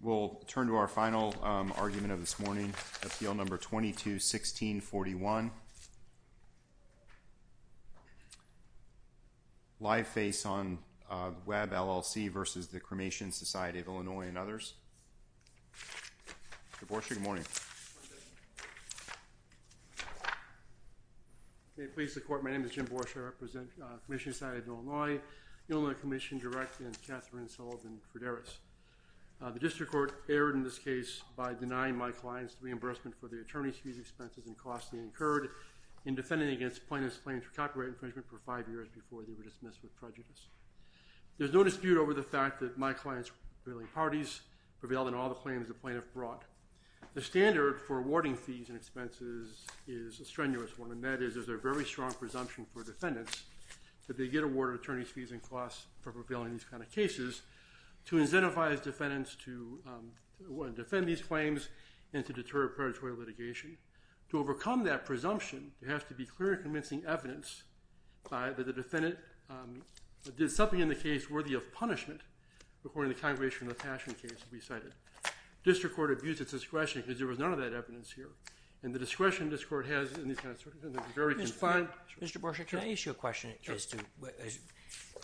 We'll turn to our final argument of this morning, Appeal No. 22-1641. Live Face on Web, LLC v. The Cremation Society of Illinois and others. Jim Borshe, good morning. May it please the Court, my name is Jim Borshe, I represent the Cremation Society of Illinois, Illinois Commission Direct, and Katherine Sullivan Frideris. The District Court erred in this case by denying my clients reimbursement for the attorney's fees, expenses, and costs they incurred in defending against plaintiff's claims for copyright infringement for five years before they were dismissed with prejudice. There's no dispute over the fact that my clients' prevailing parties prevailed in all the claims the plaintiff brought. The standard for awarding fees and expenses is a strenuous one, and that is there's a very strong presumption for defendants that they get awarded attorney's fees and costs for prevailing in these kind of cases to incentivize defendants to defend these claims and to deter predatory litigation. To overcome that presumption, there has to be clear and convincing evidence that the defendant did something in the case worthy of punishment according to the Congregational Attachment case that we cited. The District Court abused its discretion because there was none of that evidence here, and the discretion the District Court has in these kind of circumstances is very confined. Mr. Borsig, can I ask you a question?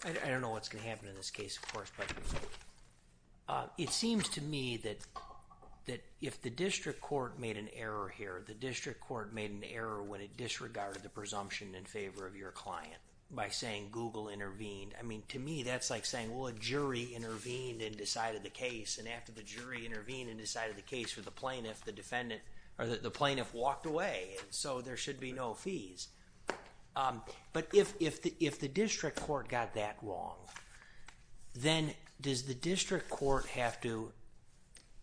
I don't know what's going to happen in this case, of course, but it seems to me that if the District Court made an error here, the District Court made an error when it disregarded the presumption in favor of your client by saying Google intervened. I mean, to me, that's like saying, well, a jury intervened and decided the case, and after the jury intervened and decided the case, the plaintiff walked away, so there should be no fees. But if the District Court got that wrong, then does the District Court have to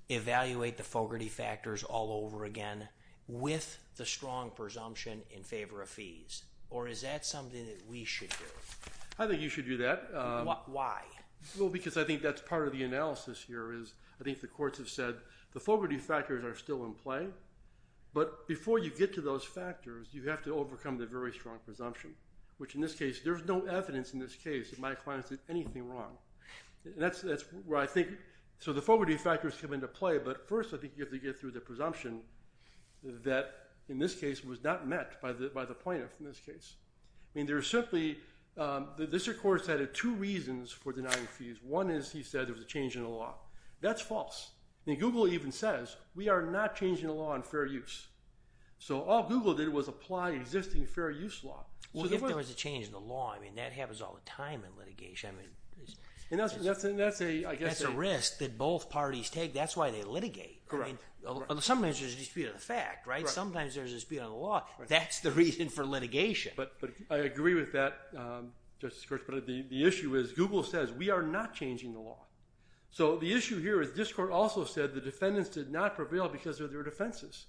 evaluate the Fogarty factors all over again with the strong presumption in favor of fees, or is that something that we should do? I think you should do that. Why? Well, because I think that's part of the analysis here, is I think the courts have said the Fogarty factors are still in play, but before you get to those factors, you have to overcome the very strong presumption, which in this case, there's no evidence in this case that my client did anything wrong. So the Fogarty factors come into play, but first I think you have to get through the presumption that in this case was not met by the plaintiff in this case. I mean, there's simply, the District Court has added two reasons for denying fees. One is he said there was a change in the law. That's false. Google even says we are not changing the law on fair use. So all Google did was apply existing fair use law. Well, if there was a change in the law, I mean, that happens all the time in litigation. That's a risk that both parties take. That's why they litigate. Sometimes there's a dispute on the fact, right? Sometimes there's a dispute on the law. That's the reason for litigation. But I agree with that, Justice Gertz, but the issue is Google says we are not changing the law. So the issue here is District Court also said the defendants did not prevail because of their defenses.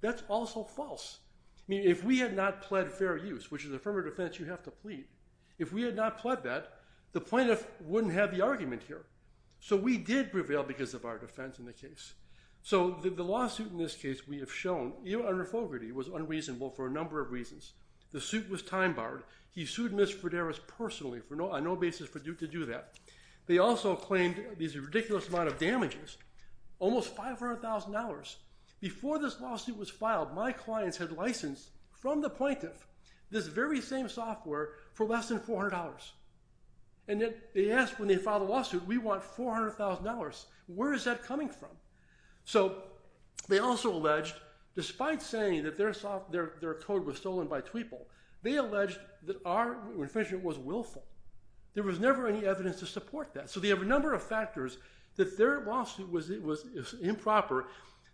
That's also false. I mean, if we had not pled fair use, which is affirmative defense, you have to plead. If we had not pled that, the plaintiff wouldn't have the argument here. So we did prevail because of our defense in the case. So the lawsuit in this case we have shown, under Fogarty, was unreasonable for a number of reasons. The suit was time-barred. He sued Ms. Frideras personally on no basis for Duke to do that. They also claimed this ridiculous amount of damages, almost $500,000. Before this lawsuit was filed, my clients had licensed from the plaintiff this very same software for less than $400. And they asked when they filed the lawsuit, we want $400,000. Where is that coming from? So they also alleged, despite saying that their code was stolen by Tweeple, they alleged that our infringement was willful. There was never any evidence to support that. So they have a number of factors that their lawsuit was improper.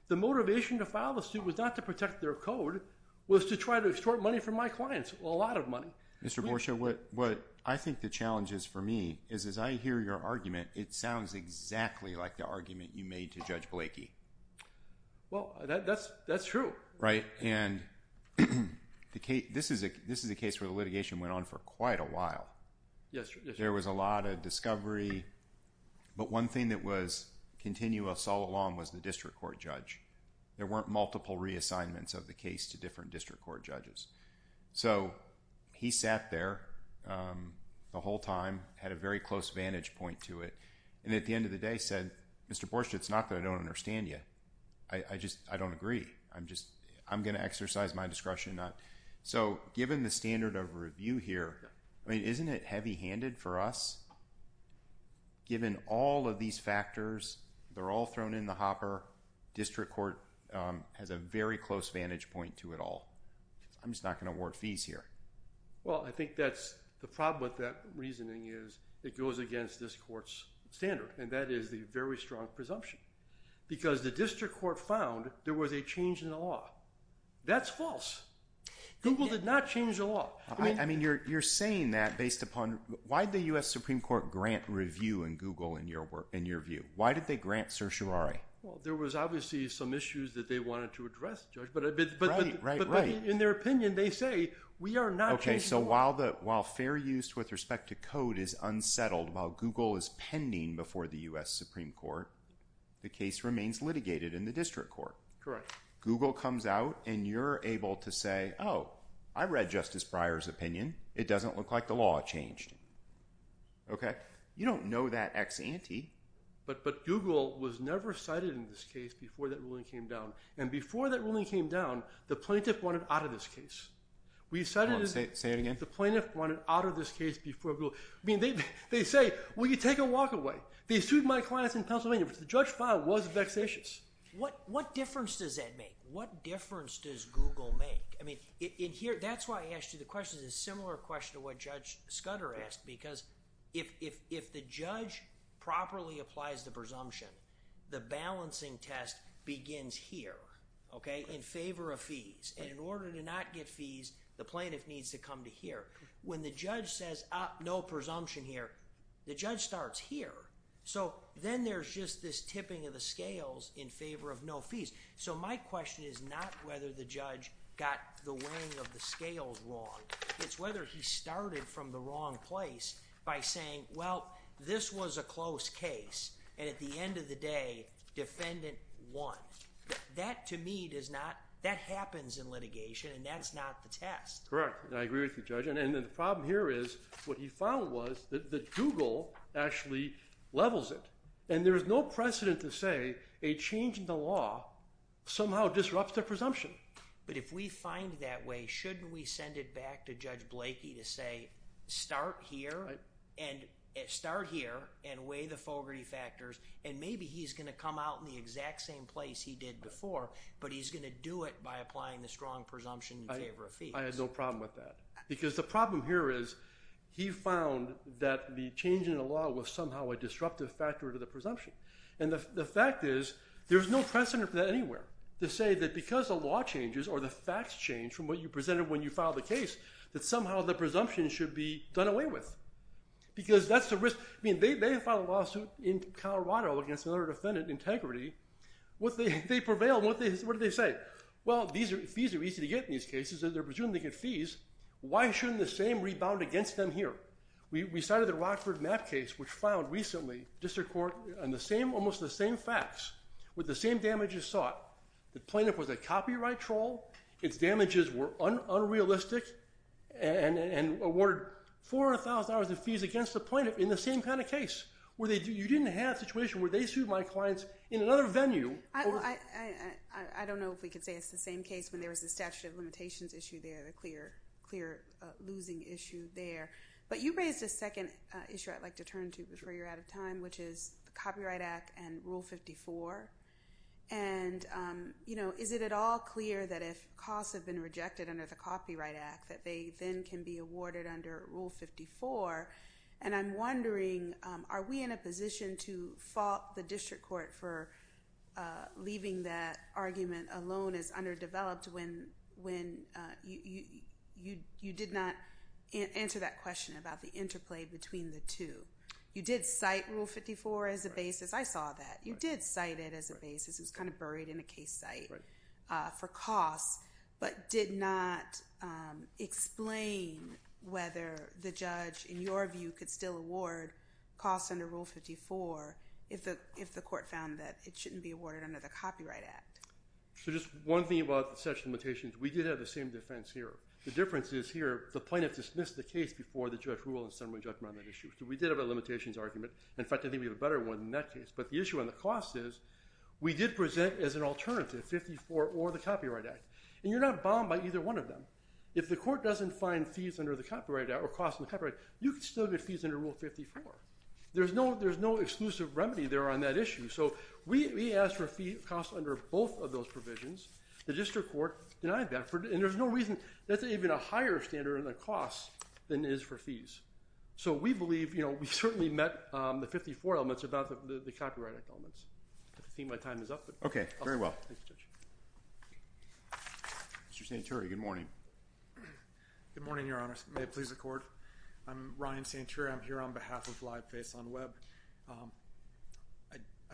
The motivation to file the suit was not to protect their code. It was to try to extort money from my clients, a lot of money. Mr. Borcia, what I think the challenge is for me, is as I hear your argument, it sounds exactly like the argument you made to Judge Blakey. Well, that's true. Right. And this is a case where the litigation went on for quite a while. There was a lot of discovery. But one thing that was continuous all along was the district court judge. There weren't multiple reassignments of the case to different district court judges. So he sat there the whole time, had a very close vantage point to it. And at the end of the day said, Mr. Borcia, it's not that I don't understand you. I just, I don't agree. I'm going to exercise my discretion. So given the standard of review here, I mean, isn't it heavy handed for us? Given all of these factors, they're all thrown in the hopper. District court has a very close vantage point to it all. I'm just not going to award fees here. Well, I think that's the problem with that reasoning is it goes against this court's standard. And that is the very strong presumption. Because the district court found there was a change in the law. That's false. Google did not change the law. I mean, you're saying that based upon, why did the U.S. Supreme Court grant review in Google in your view? Why did they grant certiorari? Well, there was obviously some issues that they wanted to address, Judge. Right, right, right. But in their opinion, they say we are not changing the law. Okay, so while fair use with respect to code is unsettled, while Google is pending before the U.S. Supreme Court, the case remains litigated in the district court. Correct. Google comes out and you're able to say, oh, I read Justice Breyer's opinion. It doesn't look like the law changed. Okay? You don't know that ex-ante. But Google was never cited in this case before that ruling came down. And before that ruling came down, the plaintiff wanted out of this case. Say it again? The plaintiff wanted out of this case before Google. I mean, they say, well, you take a walk away. They sued my clients in Pennsylvania, which the judge found was vexatious. What difference does that make? What difference does Google make? I mean, in here, that's why I asked you the question. It's a similar question to what Judge Scudder asked, because if the judge properly applies the presumption, the balancing test begins here, okay, in favor of fees. And in order to not get fees, the plaintiff needs to come to here. When the judge says, ah, no presumption here, the judge starts here. So then there's just this tipping of the scales in favor of no fees. So my question is not whether the judge got the weighing of the scales wrong. It's whether he started from the wrong place by saying, well, this was a close case. And at the end of the day, defendant won. That, to me, does not—that happens in litigation, and that's not the test. Correct. I agree with you, Judge. And the problem here is what he found was that Google actually levels it. And there's no precedent to say a change in the law somehow disrupts the presumption. But if we find that way, shouldn't we send it back to Judge Blakey to say, start here and weigh the Fogarty factors, and maybe he's going to come out in the exact same place he did before, but he's going to do it by applying the strong presumption in favor of fees. I have no problem with that. Because the problem here is he found that the change in the law was somehow a disruptive factor to the presumption. And the fact is, there's no precedent for that anywhere, to say that because the law changes or the facts change from what you presented when you filed the case, that somehow the presumption should be done away with. Because that's the risk. I mean, they filed a lawsuit in Colorado against another defendant, Integrity. They prevailed. What did they say? Well, fees are easy to get in these cases. They're presuming they get fees. Why shouldn't the same rebound against them here? We cited the Rockford Mapp case, which filed recently, district court, and almost the same facts with the same damages sought. The plaintiff was a copyright troll. Its damages were unrealistic and awarded $400,000 in fees against the plaintiff in the same kind of case. You didn't have a situation where they sued my clients in another venue. I don't know if we could say it's the same case when there was the statute of limitations issue there, the clear losing issue there. But you raised a second issue I'd like to turn to before you're out of time, which is the Copyright Act and Rule 54. And, you know, is it at all clear that if costs have been rejected under the Copyright Act, that they then can be awarded under Rule 54? And I'm wondering, are we in a position to fault the district court for leaving that argument alone as underdeveloped when you did not answer that question about the interplay between the two? You did cite Rule 54 as a basis. I saw that. You did cite it as a basis. It was kind of buried in a case site for costs, but did not explain whether the judge, in your view, could still award costs under Rule 54 if the court found that it shouldn't be awarded under the Copyright Act. So just one thing about the statute of limitations. We did have the same defense here. The difference is here the plaintiff dismissed the case before the judge ruled in summary judgment on that issue. So we did have a limitations argument. In fact, I think we have a better one in that case. But the issue on the cost is we did present as an alternative 54 or the Copyright Act. And you're not bound by either one of them. If the court doesn't find fees under the Copyright Act or costs under the Copyright Act, you can still get fees under Rule 54. There's no exclusive remedy there on that issue. So we asked for fee costs under both of those provisions. The district court denied that. And there's no reason that's even a higher standard in the costs than it is for fees. So we believe we certainly met the 54 elements about the Copyright Act elements. I think my time is up. Okay. Very well. Thank you, Judge. Mr. Santuri, good morning. Good morning, Your Honor. May it please the court. I'm Ryan Santuri. I'm here on behalf of Live Face on Web.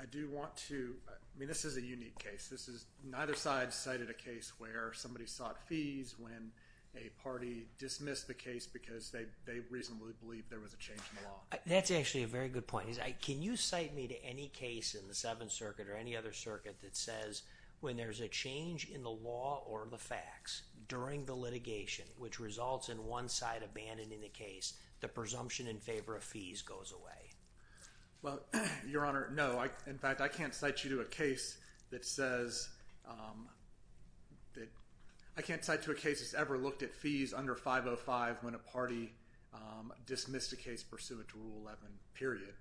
I do want to – I mean this is a unique case. This is neither side cited a case where somebody sought fees when a party dismissed the case because they reasonably believed there was a change in the law. That's actually a very good point. Can you cite me to any case in the Seventh Circuit or any other circuit that says when there's a change in the law or the facts during the litigation, which results in one side abandoning the case, the presumption in favor of fees goes away? Well, Your Honor, no. In fact, I can't cite you to a case that says – I can't cite you to a case that's ever looked at fees under 505 when a party dismissed a case pursuant to Rule 11, period.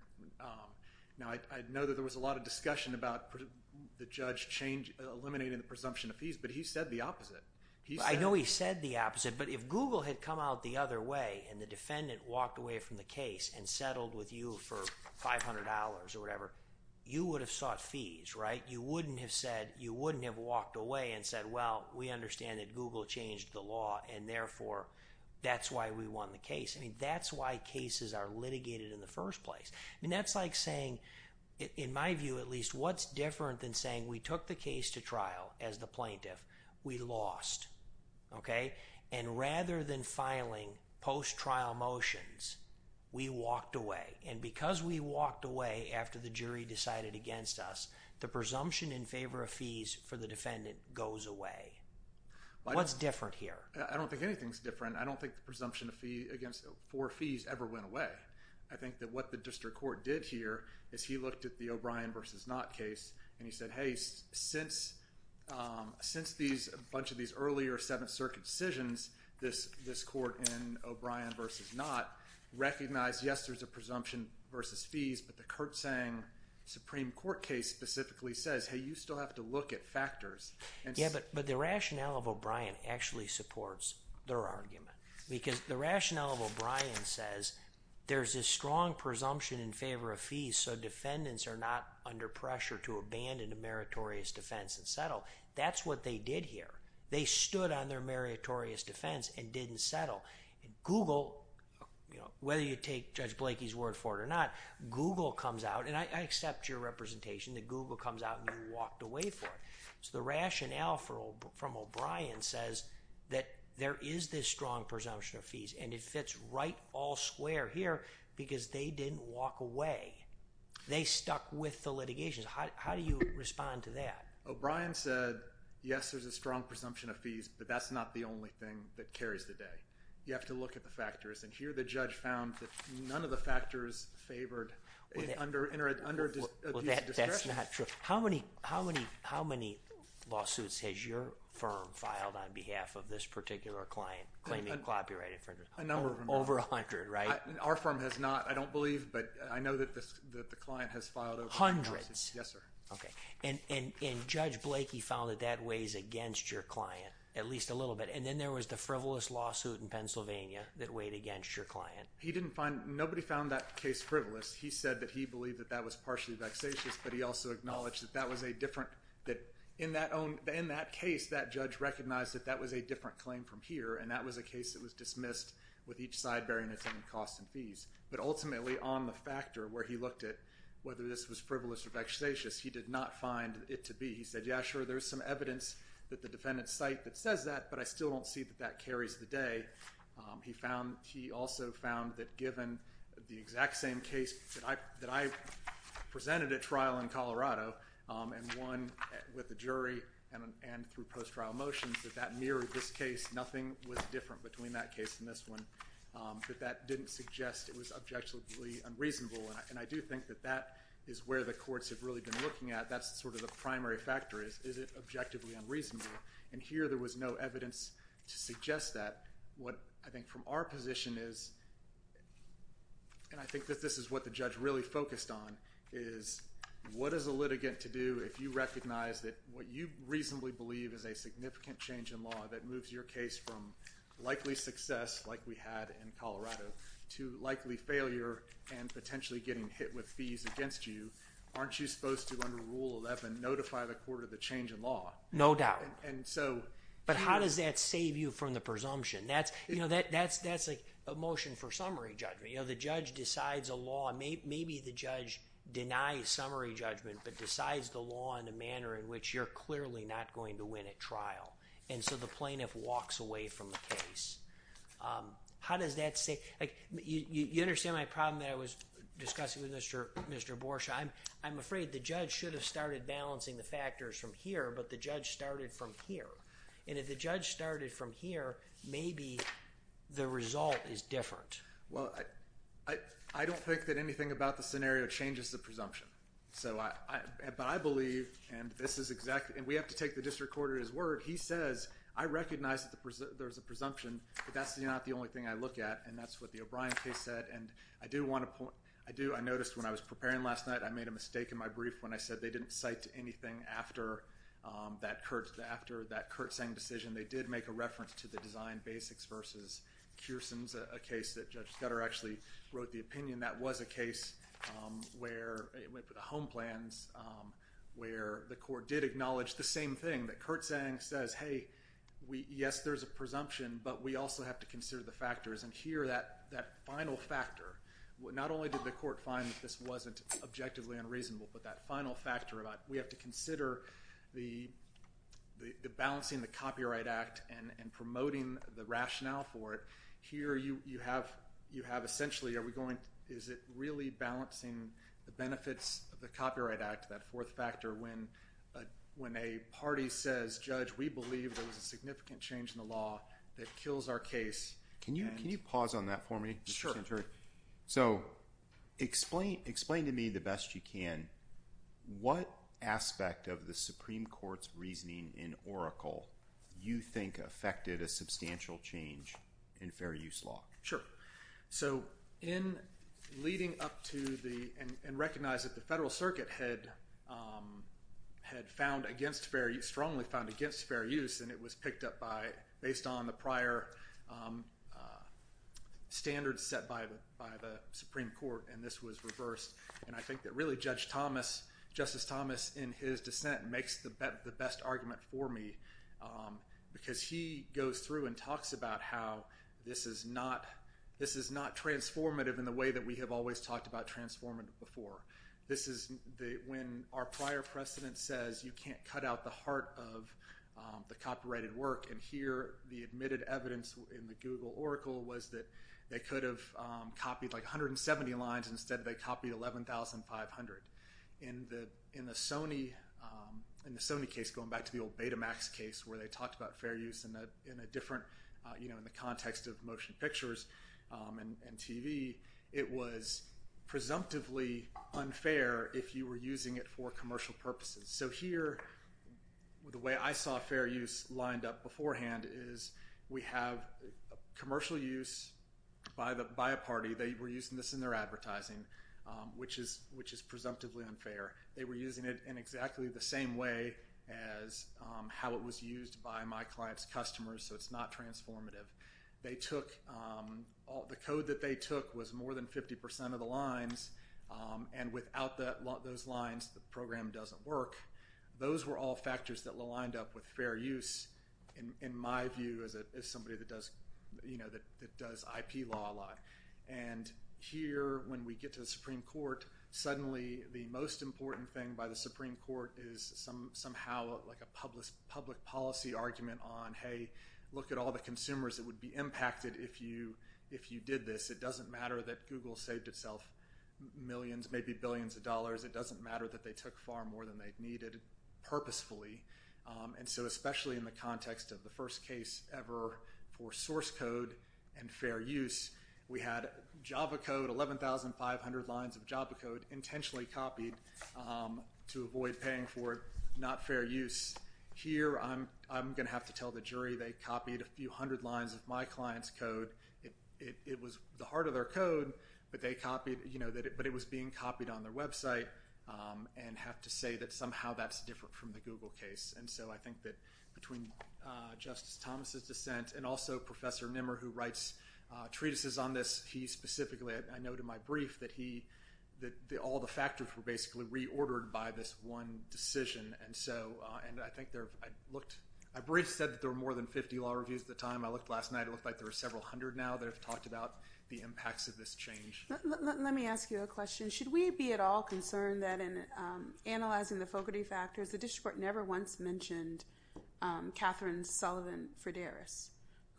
Now, I know that there was a lot of discussion about the judge eliminating the presumption of fees, but he said the opposite. I know he said the opposite, but if Google had come out the other way and the defendant walked away from the case and settled with you for $500 or whatever, you would have sought fees, right? You wouldn't have said – you wouldn't have walked away and said, well, we understand that Google changed the law and, therefore, that's why we won the case. I mean, that's why cases are litigated in the first place. I mean, that's like saying, in my view at least, what's different than saying we took the case to trial as the plaintiff, we lost, okay? And rather than filing post-trial motions, we walked away. And because we walked away after the jury decided against us, the presumption in favor of fees for the defendant goes away. What's different here? I don't think anything's different. I don't think the presumption against four fees ever went away. I think that what the district court did here is he looked at the O'Brien v. Knott case and he said, hey, since a bunch of these earlier Seventh Circuit decisions, this court in O'Brien v. Knott recognized, yes, there's a presumption versus fees, but the Kurtzsang Supreme Court case specifically says, hey, you still have to look at factors. Yeah, but the rationale of O'Brien actually supports their argument because the rationale of O'Brien says there's a strong presumption in favor of fees so defendants are not under pressure to abandon a meritorious defense and settle. That's what they did here. They stood on their meritorious defense and didn't settle. Google, whether you take Judge Blakey's word for it or not, Google comes out, and I accept your representation that Google comes out and you walked away from it. So the rationale from O'Brien says that there is this strong presumption of fees and it fits right all square here because they didn't walk away. They stuck with the litigation. How do you respond to that? O'Brien said, yes, there's a strong presumption of fees, but that's not the only thing that carries the day. You have to look at the factors, and here the judge found that none of the factors favored under these discretion. Well, that's not true. How many lawsuits has your firm filed on behalf of this particular client claiming copyright infringement? A number of them. Over 100, right? Our firm has not. I don't believe, but I know that the client has filed over 100 lawsuits. Hundreds? Yes, sir. Okay, and Judge Blakey found that that weighs against your client at least a little bit, and then there was the frivolous lawsuit in Pennsylvania that weighed against your client. He didn't find – nobody found that case frivolous. He said that he believed that that was partially vexatious, but he also acknowledged that that was a different – that in that case, that judge recognized that that was a different claim from here, and that was a case that was dismissed with each side bearing its own costs and fees. But ultimately, on the factor where he looked at whether this was frivolous or vexatious, he did not find it to be. He said, yeah, sure, there's some evidence that the defendant's site that says that, but I still don't see that that carries the day. He found – he also found that given the exact same case that I presented at trial in Colorado and won with the jury and through post-trial motions, that that mirrored this case. Nothing was different between that case and this one. But that didn't suggest it was objectively unreasonable, and I do think that that is where the courts have really been looking at. That's sort of the primary factor is, is it objectively unreasonable? And here there was no evidence to suggest that. What I think from our position is, and I think that this is what the judge really focused on, is what is a litigant to do if you recognize that what you reasonably believe is a significant change in law that moves your case from likely success, like we had in Colorado, to likely failure and potentially getting hit with fees against you, aren't you supposed to, under Rule 11, notify the court of the change in law? No doubt. But how does that save you from the presumption? That's a motion for summary judgment. The judge decides a law. Maybe the judge denies summary judgment but decides the law in a manner in which you're clearly not going to win at trial. And so the plaintiff walks away from the case. How does that save you? You understand my problem that I was discussing with Mr. Borshaw. I'm afraid the judge should have started balancing the factors from here, but the judge started from here. And if the judge started from here, maybe the result is different. Well, I don't think that anything about the scenario changes the presumption. But I believe, and we have to take the district court at his word, he says, I recognize that there's a presumption, but that's not the only thing I look at, and that's what the O'Brien case said. And I noticed when I was preparing last night I made a mistake in my brief when I said they didn't cite anything after that Curt Seng decision. They did make a reference to the Design Basics v. Kierson's case that Judge Scudder actually wrote the opinion. That was a case where it went for the home plans, where the court did acknowledge the same thing, that Curt Seng says, hey, yes, there's a presumption, but we also have to consider the factors. And here that final factor, not only did the court find that this wasn't objectively unreasonable, but that final factor about we have to consider the balancing the Copyright Act and promoting the rationale for it, here you have essentially, is it really balancing the benefits of the Copyright Act, that fourth factor, when a party says, Judge, we believe there was a significant change in the law that kills our case. Can you pause on that for me? Sure. So explain to me the best you can what aspect of the Supreme Court's reasoning in Oracle you think affected a substantial change in fair use law. Sure. So in leading up to the, and recognize that the Federal Circuit had found against fair use, strongly found against fair use, and it was picked up by, based on the prior standards set by the Supreme Court, and this was reversed, and I think that really Judge Thomas, Justice Thomas in his dissent makes the best argument for me because he goes through and talks about how this is not transformative in the way that we have always talked about transformative before. This is when our prior precedent says you can't cut out the heart of the copyrighted work, and here the admitted evidence in the Google Oracle was that they could have copied like 170 lines instead they copied 11,500. In the Sony case, going back to the old Betamax case where they talked about fair use in a different, you know, in the context of motion pictures and TV, it was presumptively unfair if you were using it for commercial purposes. So here, the way I saw fair use lined up beforehand is we have commercial use by a party. They were using this in their advertising, which is presumptively unfair. They were using it in exactly the same way as how it was used by my client's customers, so it's not transformative. They took, the code that they took was more than 50% of the lines, and without those lines the program doesn't work. Those were all factors that lined up with fair use in my view as somebody that does IP law a lot, and here when we get to the Supreme Court, suddenly the most important thing by the Supreme Court is somehow like a public policy argument on, hey, look at all the consumers that would be impacted if you did this. It doesn't matter that Google saved itself millions, maybe billions of dollars. It doesn't matter that they took far more than they needed purposefully, and so especially in the context of the first case ever for source code and fair use, we had Java code, 11,500 lines of Java code intentionally copied to avoid paying for not fair use. Here I'm going to have to tell the jury they copied a few hundred lines of my client's code. It was the heart of their code, but it was being copied on their website and have to say that somehow that's different from the Google case, and so I think that between Justice Thomas' dissent and also Professor Nimmer who writes treatises on this, he specifically, I noted in my brief, that all the factors were basically reordered by this one decision, and so I think I briefed said that there were more than 50 law reviews at the time. I looked last night. It looked like there were several hundred now that have talked about the impacts of this change. Let me ask you a question. Should we be at all concerned that in analyzing the Fogarty factors, the district court never once mentioned Catherine Sullivan Frideras,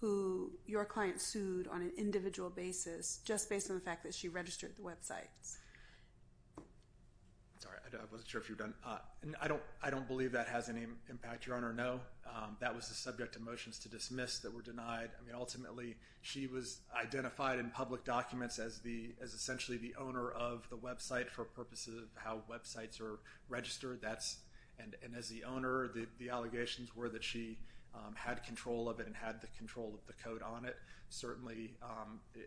who your client sued on an individual basis just based on the fact that she registered the websites? Sorry, I wasn't sure if you were done. I don't believe that has any impact, Your Honor. No, that was the subject of motions to dismiss that were denied. I mean, ultimately, she was identified in public documents as essentially the owner of the website for purposes of how websites are registered, and as the owner, the allegations were that she had control of it and had the control of the code on it. Certainly,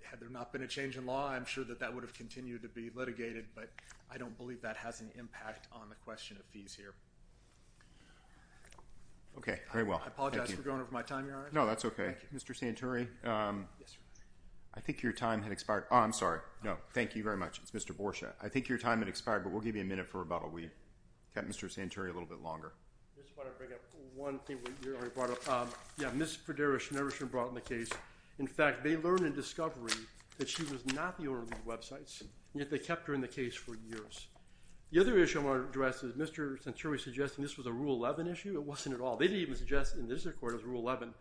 had there not been a change in law, I'm sure that that would have continued to be litigated, but I don't believe that has an impact on the question of fees here. Okay, very well. I apologize for going over my time, Your Honor. No, that's okay. Mr. Santuri, I think your time had expired. Oh, I'm sorry. No, thank you very much. It's Mr. Borcia. I think your time had expired, but we'll give you a minute for rebuttal. We kept Mr. Santuri a little bit longer. I just want to bring up one thing that you already brought up. Yeah, Ms. Frideras never should have brought up the case. In fact, they learned in discovery that she was not the owner of these websites, and yet they kept her in the case for years. The other issue I want to address is Mr. Santuri suggesting this was a Rule 11 issue. It wasn't at all. They didn't even suggest in the district court it was Rule 11.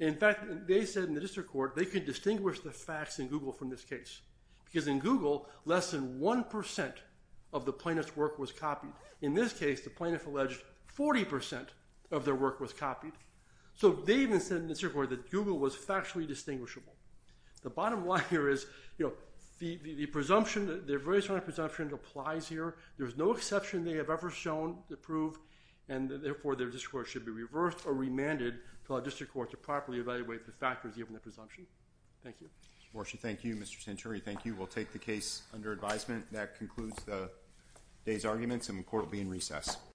In fact, they said in the district court they could distinguish the facts in Google from this case because in Google, less than 1% of the plaintiff's work was copied. In this case, the plaintiff alleged 40% of their work was copied. So they even said in the district court that Google was factually distinguishable. The bottom line here is the presumption, their very strong presumption applies here. There's no exception they have ever shown to prove, and therefore their discourse should be reversed or remanded to our district court to properly evaluate the factors given the presumption. Thank you. Mr. Borshett, thank you. Mr. Santuri, thank you. We'll take the case under advisement. That concludes the day's arguments, and the court will be in recess.